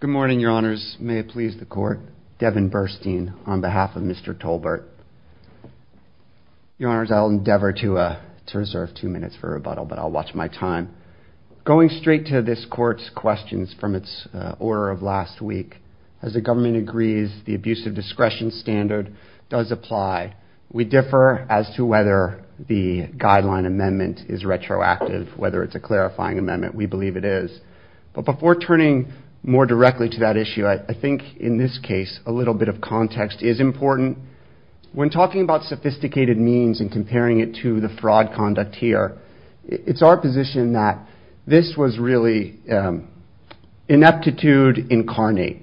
Good morning, your honors. May it please the court, Devin Burstein on behalf of Mr. Tolbert. Your honors, I'll endeavor to reserve two minutes for rebuttal, but I'll watch my time. Going straight to this court's questions from its order of last week, as the government agrees, the abuse of discretion standard does apply. We differ as to whether the guideline amendment is retroactive, whether it's a clarifying amendment. We believe it is. But before turning more directly to that issue, I think in this case a little bit of context is important. When talking about sophisticated means and comparing it to the fraud conduct here, it's our position that this was really ineptitude incarnate.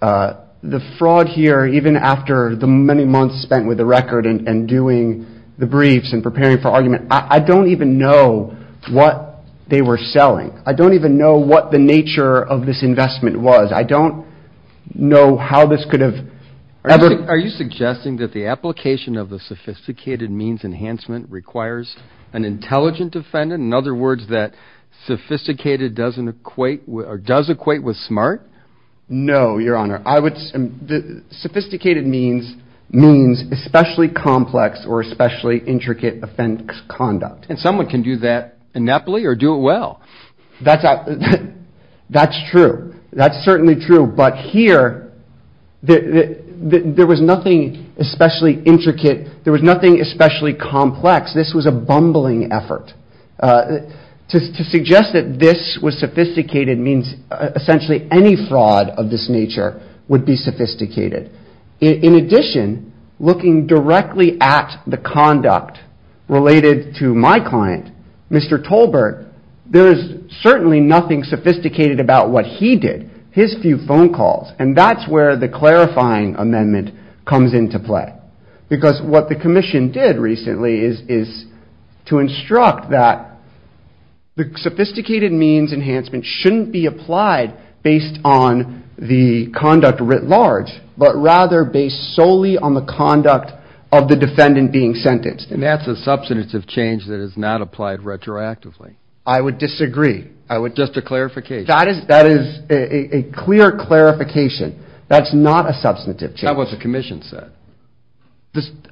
The fraud here, even after the many months spent with the record and doing the briefs and preparing for argument, I don't even know what they were selling. I don't even know what the nature of this investment was. I don't know how this could have ever... Are you suggesting that the application of the sophisticated means enhancement requires an intelligent defendant? In other words, that sophisticated doesn't equate or does equate with smart? No, your honor. I would... sophisticated means means especially complex or especially intricate offense conduct. And someone can do that ineptly or do it well. That's true. That's certainly true. But here, there was nothing especially intricate. There was nothing especially complex. This was a bumbling effort. To suggest that this was sophisticated means essentially any fraud of this nature would be sophisticated. In addition, looking directly at the conduct related to my client, Mr. Tolbert, there is certainly nothing sophisticated about what he did, his few phone calls. And that's where the clarifying amendment comes into play. Because what the commission did recently is to instruct that the sophisticated means enhancement shouldn't be applied based on the conduct writ large, but rather based solely on the conduct of the defendant being sentenced. And that's a substantive change that is not applied retroactively. I would disagree. Just a clarification. That is a clear clarification. That's not a substantive change. That's not what the commission said.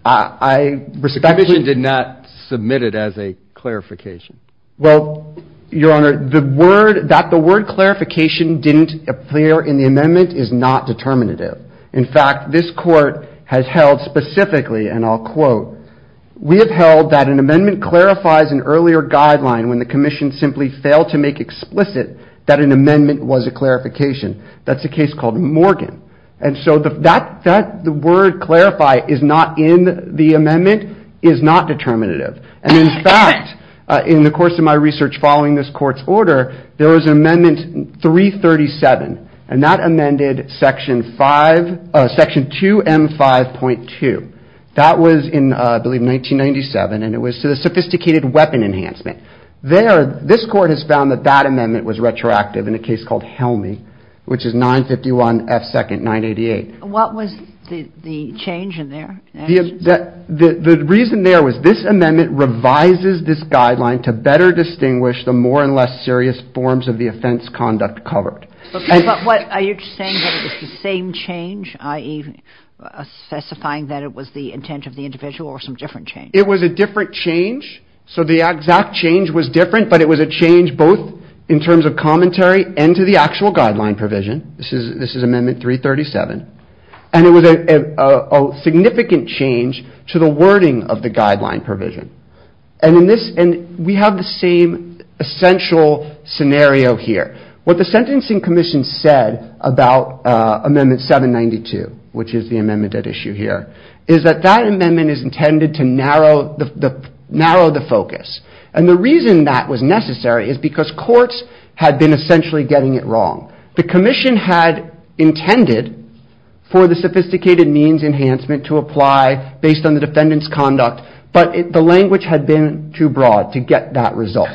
I respectfully... The commission did not submit it as a clarification. Well, Your Honor, that the word clarification didn't appear in the amendment is not determinative. In fact, this court has held specifically, and I'll quote, we have held that an amendment clarifies an earlier guideline when the commission simply failed to make explicit that an amendment was a clarification. That's a case called Morgan. And so the fact that the word clarify is not in the amendment is not determinative. And in fact, in the course of my research following this court's order, there was an amendment 337, and that amended section 5, section 2M5.2. That was in, I believe, 1997, and it was to the sophisticated weapon enhancement. There, this court has found that that amendment was retroactive in a case called Helmy, which is 951 F. 2nd, 988. What was the change in there? The reason there was this amendment revises this guideline to better distinguish the more and less serious forms of the offense conduct covered. But what, are you saying that it was the same change, i.e. specifying that it was the intent of the individual or some different change? It was a different change. So the exact change was different, but it was a change both in terms of commentary and to the actual guideline provision. This is amendment 337, and it was a significant change to the wording of the guideline provision. And we have the same essential scenario here. What the Sentencing Commission said about amendment 792, which is the amendment at issue here, is that that amendment is intended to narrow the focus. And the reason that was necessary is because courts had been essentially getting it wrong. The Commission had intended for the sophisticated means enhancement to apply based on the defendant's conduct, but the language had been too broad to get that result.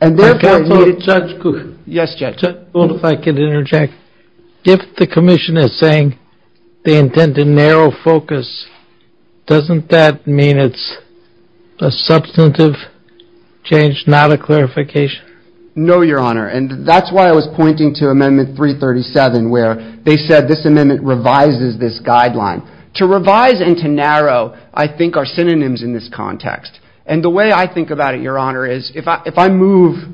And therefore, it needed... Judge Cook. Yes, Judge. Well, if I could interject, if the Commission is saying they intend to narrow focus, doesn't that mean it's a substantive change, not a clarification? No, Your Honor. And that's why I was pointing to amendment 337, where they said this amendment revises this guideline. To revise and to narrow, I think, are synonyms in this context. And the way I think about it, Your Honor, is if I move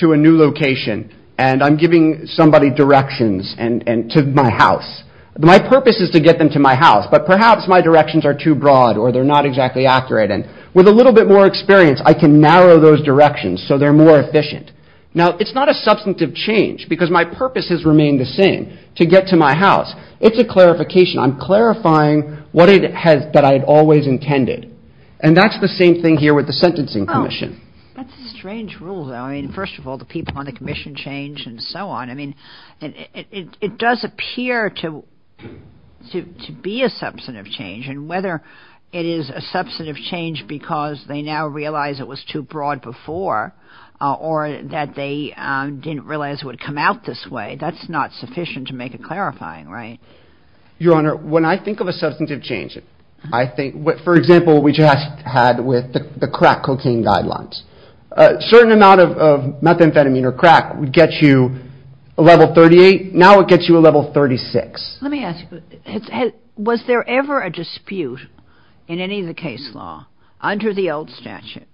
to a new location and I'm giving somebody directions to my house, my purpose is to get them to my house, but perhaps my directions are too broad or they're not exactly accurate. And with a little bit more experience, I can narrow those directions so they're more efficient. Now, it's not a substantive change because my purpose has remained the same, to get to my house. It's a clarification. I'm clarifying what it has... that I had always intended. And that's the same thing here with the Sentencing Commission. Oh, that's a strange rule, though. I mean, first of all, the people on the Commission change and so on. I mean, it does appear to be a substantive change. And whether it is a substantive change because they now realize it was too broad before, or that they didn't realize it would come out this way, that's not sufficient to make a clarifying, right? Your Honor, when I think of a substantive change, I think... For example, we just had with the crack cocaine guidelines. A certain amount of methamphetamine or crack would get you a level 38. Now it gets you a level 36. Let me ask you, was there ever a dispute in any of the case law under the old statute,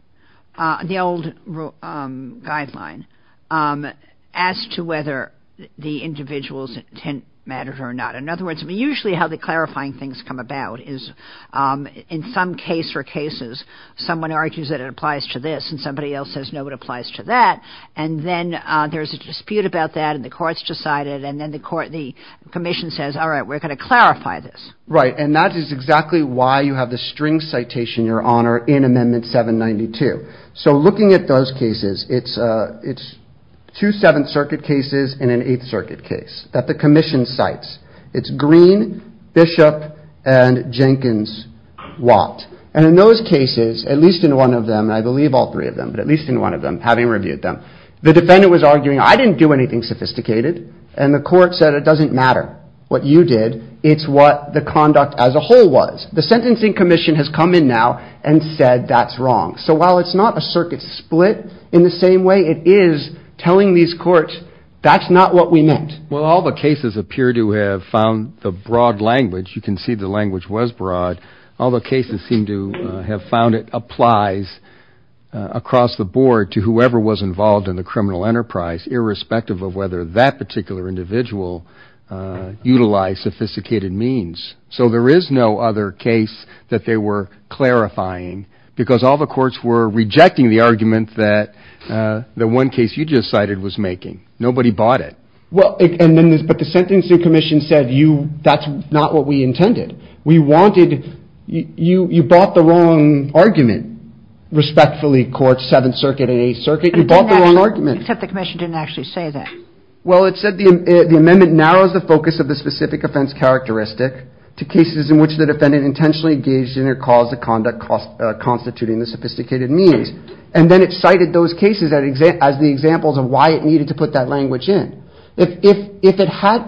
the old guideline, as to whether the individual's intent mattered or not? In other words, I mean, usually how the clarifying things come about is in some case or cases, someone argues that it applies to this and somebody else says, no, it applies to that. And then there's a dispute about that and the courts decided, and then the Commission says, all right, we're going to clarify this. Right. And that is exactly why you have the string citation, Your Honor, in Amendment 792. So looking at those cases, it's two Seventh Circuit cases and an Eighth Circuit case that the Commission cites. It's Green, Bishop, and Jenkins, Watt. And in those cases, at least in one of them, and I believe all three of them, but at least in one of them, having reviewed them, the defendant was arguing, I didn't do anything sophisticated and the court said, it doesn't matter what you did. It's what the conduct as a whole was. The Sentencing Commission has come in now and said that's wrong. So while it's not a circuit split in the same way, it is telling these courts, that's not what we meant. Well, all the cases appear to have found the broad language. You can see the language was broad. All the cases seem to have found it applies across the board to whoever was involved in the criminal enterprise, irrespective of whether that particular individual utilized sophisticated means. So there is no other case that they were clarifying because all the courts were rejecting the argument that the one case you just cited was making. Nobody bought it. Well, but the Sentencing Commission said that's not what we intended. We wanted, you brought the wrong argument, respectfully, Court, Seventh Circuit and Eighth Circuit. You brought the wrong argument. Except the Commission didn't actually say that. Well, it said the amendment narrows the focus of the specific offense characteristic to cases in which the defendant intentionally engaged in or caused the conduct constituting the sophisticated means and then it cited those cases as the examples of why it needed to put that language in. If it had,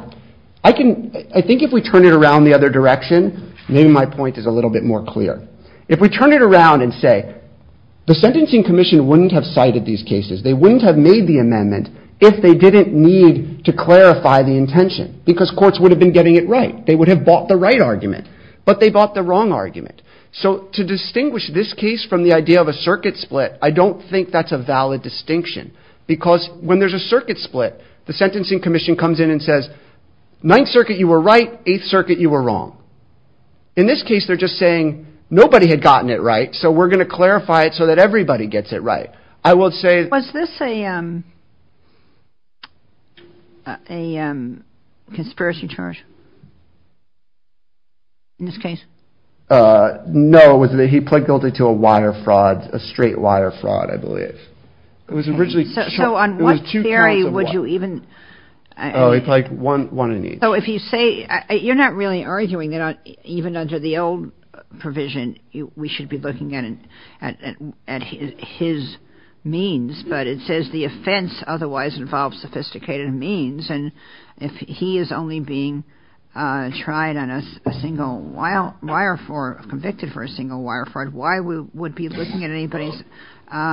I think if we turn it around the other direction, maybe my point is a little bit more clear. If we turn it around and say the Sentencing Commission wouldn't have cited these cases, they wouldn't have made the amendment if they didn't need to clarify the intention because courts would have been getting it right. They would have bought the right argument, but they bought the wrong argument. So to distinguish this case from the idea of a circuit split, I don't think that's a valid distinction because when there's a circuit split, the Sentencing Commission comes in and says, Ninth Circuit, you were right, Eighth Circuit, you were wrong. In this case, they're just saying nobody had gotten it right, so we're going to clarify it so that everybody gets it right. I will say... Was this a conspiracy charge in this case? No, he pled guilty to a wire fraud, a straight wire fraud, I believe. It was originally... So on what theory would you even... Oh, it's like one in each. You're not really arguing that even under the old provision, we should be looking at his means, but it says the offense otherwise involves sophisticated means, and if he is only being tried on a single wire fraud, convicted for a single wire fraud, why would we be looking at anybody's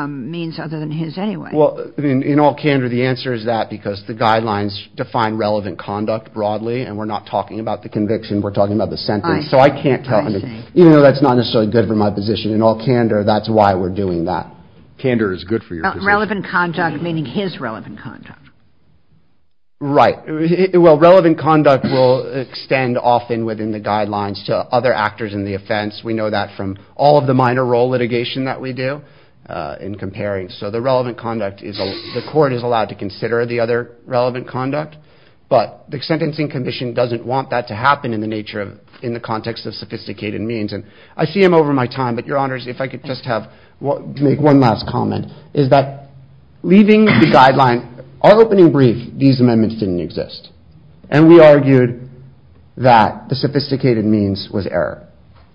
means other than his anyway? Well, in all candor, the answer is that because the guidelines define relevant conduct broadly and we're not talking about the conviction, we're talking about the sentence. So I can't tell... Even though that's not necessarily good for my position, in all candor, that's why we're doing that. Candor is good for your position. Relevant conduct, meaning his relevant conduct. Right. Well, relevant conduct will extend often within the guidelines to other actors in the offense. We know that from all of the minor role litigation that we do in comparing. So the relevant conduct is... But the sentencing commission doesn't want that to happen in the context of sophisticated means. And I see him over my time, but your honors, if I could just make one last comment, is that leaving the guideline... Our opening brief, these amendments didn't exist. And we argued that the sophisticated means was error.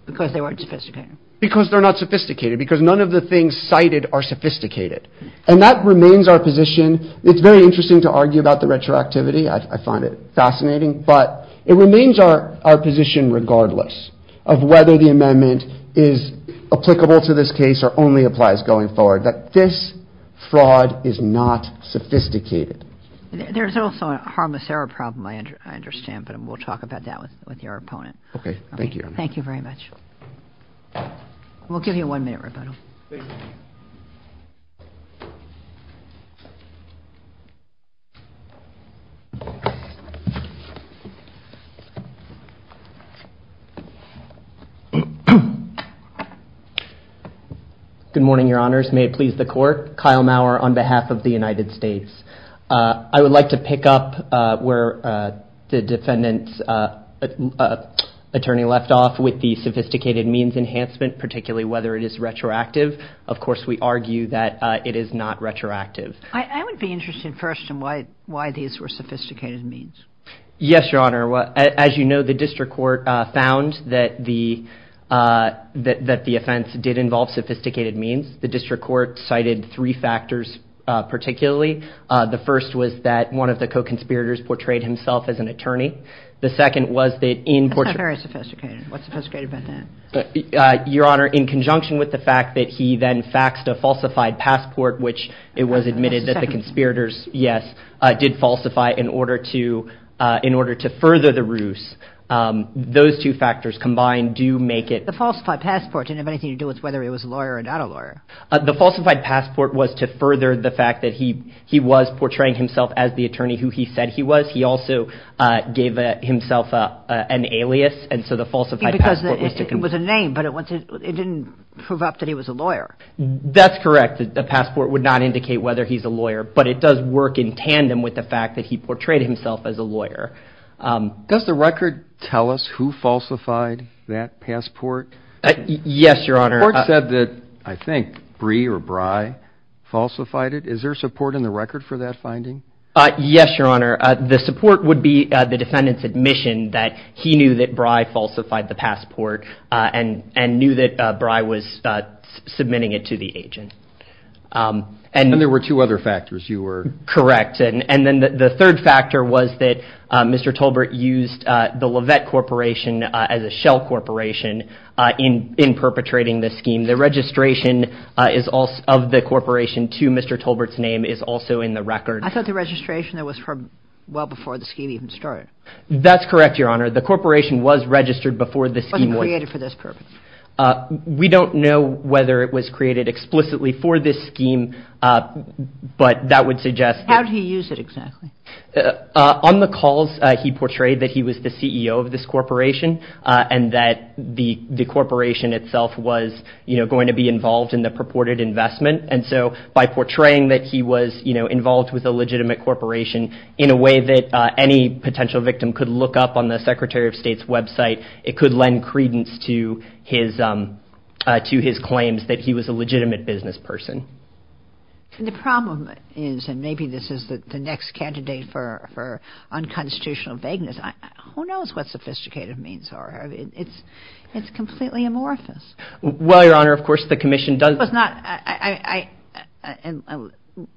Because they weren't sophisticated. Because they're not sophisticated. Because none of the things cited are sophisticated. And that remains our position. It's very interesting to argue about the retroactivity. I find it fascinating. But it remains our position regardless of whether the amendment is applicable to this case or only applies going forward. That this fraud is not sophisticated. There's also a harmless error problem, I understand. But we'll talk about that with your opponent. Okay. Thank you. Thank you very much. We'll give you one minute, Roberto. Please. Good morning, your honors. May it please the court. Kyle Maurer on behalf of the United States. I would like to pick up where the defendant's attorney left off with the sophisticated means enhancement, particularly whether it is retroactive. Of course, we argue that it is not retroactive. I would be interested first in why these were sophisticated means. Yes, your honor. As you know, the district court found that the offense did involve sophisticated means. The district court cited three factors particularly. The first was that one of the co-conspirators portrayed himself as an attorney. The second was that in portrait. That's not very sophisticated. What's sophisticated about that? Your honor, in conjunction with the fact that he then faxed a falsified passport, which it was admitted that the conspirators, yes, did falsify in order to further the ruse. Those two factors combined do make it. The falsified passport didn't have anything to do with whether he was a lawyer or not a lawyer. The falsified passport was to further the fact that he was portraying himself as the attorney who he said he was. He also gave himself an alias, and so the falsified passport was to. It was a name, but it didn't prove up that he was a lawyer. That's correct. The passport would not indicate whether he's a lawyer, but it does work in tandem with the fact that he portrayed himself as a lawyer. Does the record tell us who falsified that passport? Yes, your honor. It said that I think Brie or Bry falsified it. Is there support in the record for that finding? Yes, your honor. The support would be the defendant's admission that he knew that Bry falsified the passport and knew that Bry was submitting it to the agent. And there were two other factors. Correct. And then the third factor was that Mr. Tolbert used the Levette Corporation as a shell corporation in perpetrating this scheme. The registration of the corporation to Mr. Tolbert's name is also in the record. I thought the registration was from well before the scheme even started. That's correct, your honor. The corporation was registered before the scheme was created for this purpose. We don't know whether it was created explicitly for this scheme, but that would suggest. How did he use it exactly? On the calls, he portrayed that he was the CEO of this corporation and that the corporation itself was going to be involved in the purported investment. And so by portraying that he was involved with a legitimate corporation in a way that any potential victim could look up on the Secretary of State's website, it could lend credence to his claims that he was a legitimate business person. And the problem is, and maybe this is the next candidate for unconstitutional vagueness. Who knows what sophisticated means are? It's completely amorphous. Well, your honor, of course, the commission does. This was not at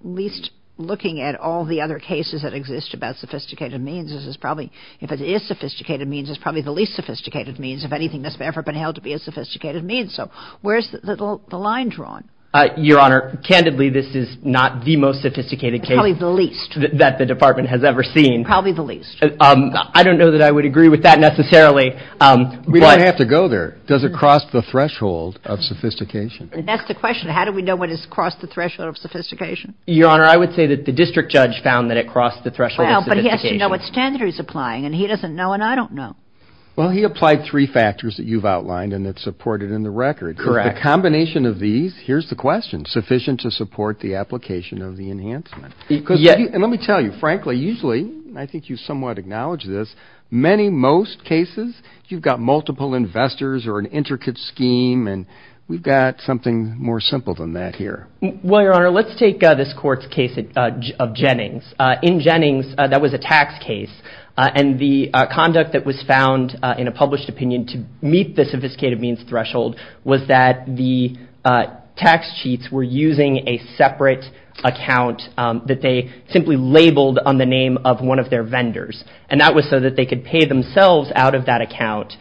least looking at all the other cases that exist about sophisticated means. This is probably if it is sophisticated means, it's probably the least sophisticated means of anything that's ever been held to be a sophisticated means. So where's the line drawn? Your honor, candidly, this is not the most sophisticated case. Probably the least that the department has ever seen. Probably the least. I don't know that I would agree with that necessarily. We don't have to go there. Does it cross the threshold of sophistication? That's the question. How do we know when it's crossed the threshold of sophistication? Your honor, I would say that the district judge found that it crossed the threshold of sophistication. Well, but he has to know what standard he's applying, and he doesn't know, and I don't know. Well, he applied three factors that you've outlined and that's supported in the record. Correct. The combination of these, here's the question, sufficient to support the application of the enhancement? And let me tell you, frankly, usually, I think you somewhat acknowledge this, many, most cases, you've got multiple investors or an intricate scheme, and we've got something more simple than that here. Well, your honor, let's take this court's case of Jennings. In Jennings, that was a tax case, and the conduct that was found in a published opinion to meet the sophisticated means threshold was that the tax cheats were using a separate account that they simply labeled on the name of one of their vendors. And that was so that they could pay themselves out of that account,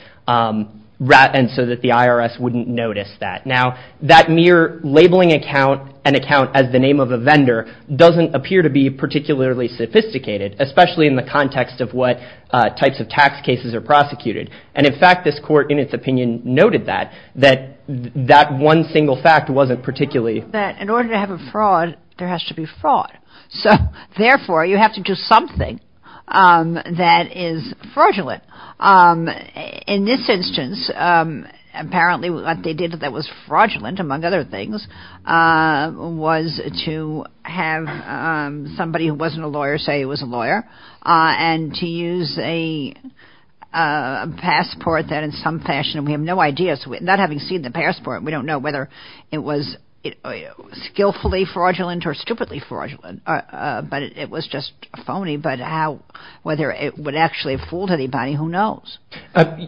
and so that the IRS wouldn't notice that. Now, that mere labeling account, an account as the name of a vendor, doesn't appear to be particularly sophisticated, especially in the context of what types of tax cases are prosecuted. And in fact, this court, in its opinion, noted that, that that one single fact wasn't particularly that in order to have a fraud, there has to be fraud. So therefore, you have to do something that is fraudulent. In this instance, apparently, what they did that was fraudulent, among other things, was to have somebody who wasn't a lawyer say it was a lawyer and to use a passport that in some fashion, we have no idea. So not having seen the passport, we don't know whether it was skillfully fraudulent or stupidly fraudulent. But it was just phony. But how, whether it would actually fool anybody, who knows?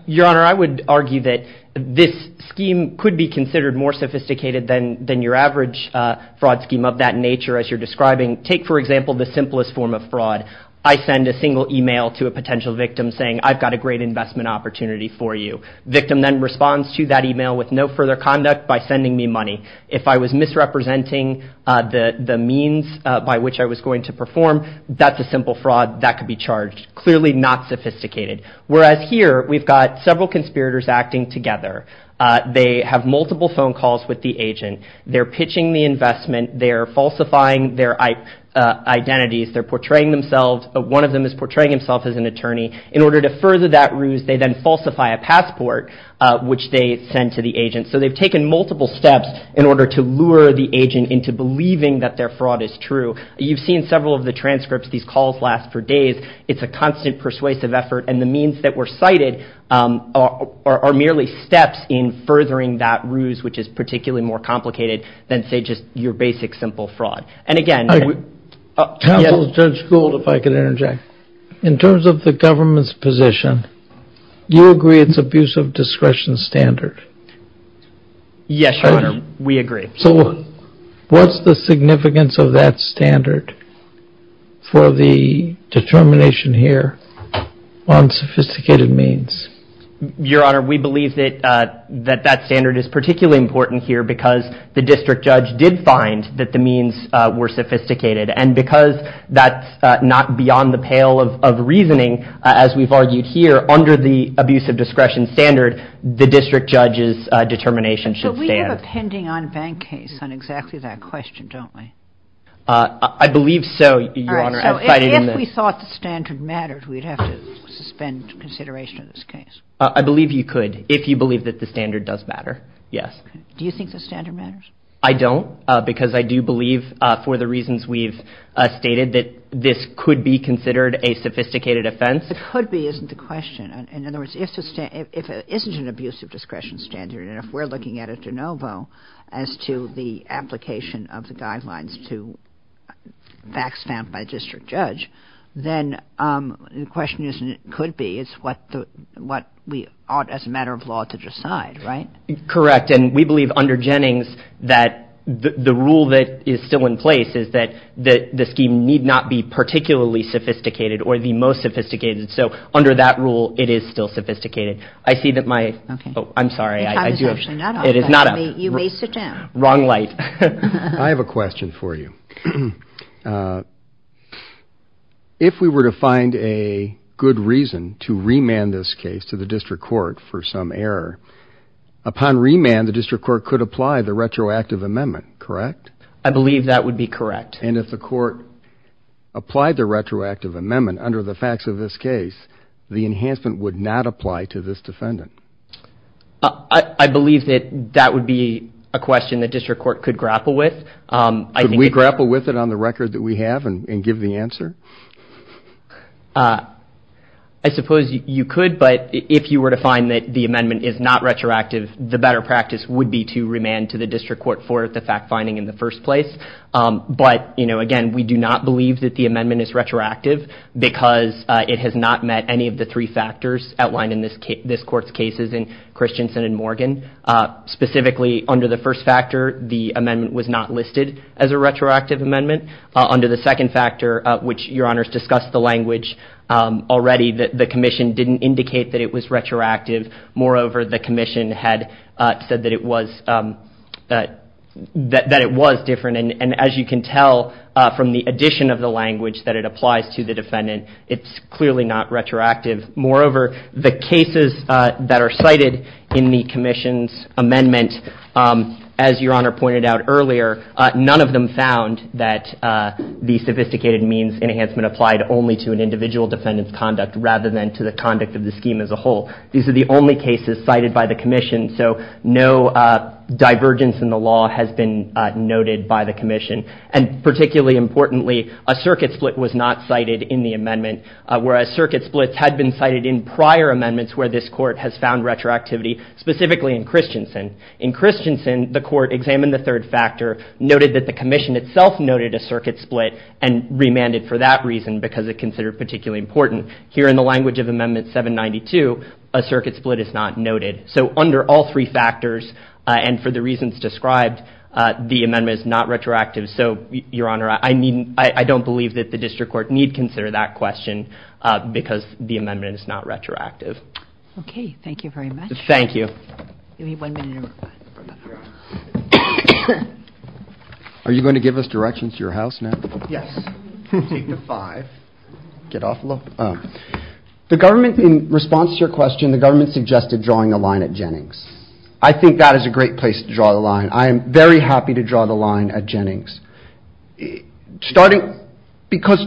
Your Honor, I would argue that this scheme could be considered more sophisticated than than your average fraud scheme of that nature. As you're describing, take, for example, the simplest form of fraud. I send a single email to a potential victim saying I've got a great investment opportunity for you. Victim then responds to that email with no further conduct by sending me money. If I was misrepresenting the means by which I was going to perform, that's a simple fraud that could be charged. Clearly not sophisticated. Whereas here, we've got several conspirators acting together. They have multiple phone calls with the agent. They're pitching the investment. They're falsifying their identities. They're portraying themselves. One of them is portraying himself as an attorney. In order to further that ruse, they then falsify a passport, which they send to the agent. So they've taken multiple steps in order to lure the agent into believing that their fraud is true. You've seen several of the transcripts. These calls last for days. It's a constant persuasive effort. And the means that were cited are merely steps in furthering that ruse, which is particularly more complicated than, say, just your basic simple fraud. Counsel, Judge Gould, if I could interject. In terms of the government's position, do you agree it's abuse of discretion standard? Yes, Your Honor. We agree. So what's the significance of that standard for the determination here on sophisticated means? Your Honor, we believe that that standard is particularly important here because the district judge did find that the means were sophisticated. And because that's not beyond the pale of reasoning, as we've argued here, under the abuse of discretion standard, the district judge's determination should stand. But we have a pending on-bank case on exactly that question, don't we? I believe so, Your Honor. All right. So if we thought the standard mattered, we'd have to suspend consideration of this case. I believe you could, if you believe that the standard does matter. Yes. Do you think the standard matters? I don't, because I do believe, for the reasons we've stated, that this could be considered a sophisticated offense. The could be isn't the question. In other words, if it isn't an abuse of discretion standard, and if we're looking at a de novo as to the application of the guidelines to facts found by a district judge, then the question isn't it could be. It's what we ought, as a matter of law, to decide, right? Correct. And we believe under Jennings that the rule that is still in place is that the scheme need not be particularly sophisticated or the most sophisticated. So under that rule, it is still sophisticated. I see that my. Oh, I'm sorry. It is not. You may sit down. Wrong light. I have a question for you. If we were to find a good reason to remand this case to the district court for some error, upon remand, the district court could apply the retroactive amendment, correct? I believe that would be correct. And if the court applied the retroactive amendment under the facts of this case, the enhancement would not apply to this defendant. I believe that that would be a question that district court could grapple with. I think we grapple with it on the record that we have and give the answer. I suppose you could, but if you were to find that the amendment is not retroactive, the better practice would be to remand to the district court for the fact finding in the first place. But, you know, again, we do not believe that the amendment is retroactive because it has not met any of the three factors outlined in this case, this court's cases in Christensen and Morgan, specifically under the first factor. The amendment was not listed as a retroactive amendment under the second factor, which your honors discussed the language already that the commission didn't indicate that it was retroactive. Moreover, the commission had said that it was that that it was different. And as you can tell from the addition of the language that it applies to the defendant, it's clearly not retroactive. Moreover, the cases that are cited in the commission's amendment, as your honor pointed out earlier, none of them found that the sophisticated means enhancement applied only to an individual defendant's conduct rather than to the conduct of the scheme as a whole. These are the only cases cited by the commission. So no divergence in the law has been noted by the commission. And particularly importantly, a circuit split was not cited in the amendment, whereas circuit splits had been cited in prior amendments where this court has found retroactivity, specifically in Christensen. In Christensen, the court examined the third factor, noted that the commission itself noted a circuit split, and remanded for that reason because it considered particularly important. Here in the language of Amendment 792, a circuit split is not noted. So under all three factors and for the reasons described, the amendment is not retroactive. So, your honor, I don't believe that the district court need consider that question because the amendment is not retroactive. Okay. Thank you very much. Thank you. Are you going to give us directions to your house now? Yes. The government, in response to your question, the government suggested drawing a line at Jennings. I think that is a great place to draw the line. I am very happy to draw the line at Jennings. Because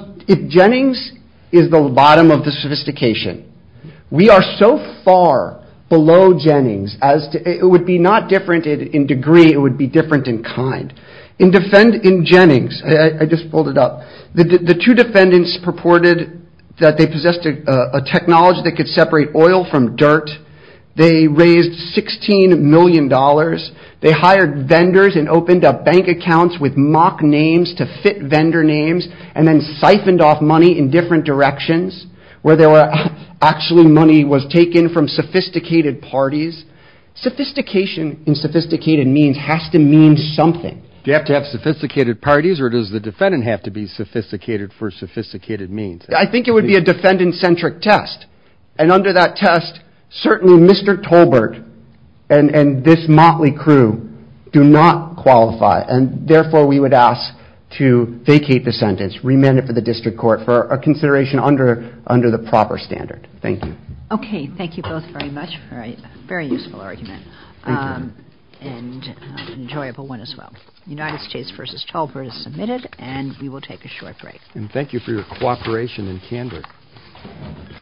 Jennings is the bottom of the sophistication. We are so far below Jennings, it would be not different in degree, it would be different in kind. In Jennings, I just pulled it up, the two defendants purported that they possessed a technology that could separate oil from dirt. They raised $16 million. They hired vendors and opened up bank accounts with mock names to fit vendor names. And then siphoned off money in different directions. Where there were actually money was taken from sophisticated parties. Sophistication in sophisticated means has to mean something. Do you have to have sophisticated parties or does the defendant have to be sophisticated for sophisticated means? I think it would be a defendant-centric test. And under that test, certainly Mr. Tolbert and this motley crew do not qualify. And therefore we would ask to vacate the sentence, remand it for the district court for a consideration under the proper standard. Thank you. Okay, thank you both very much for a very useful argument. Thank you. And an enjoyable one as well. United States v. Tolbert is submitted and we will take a short break. And thank you for your cooperation and candor.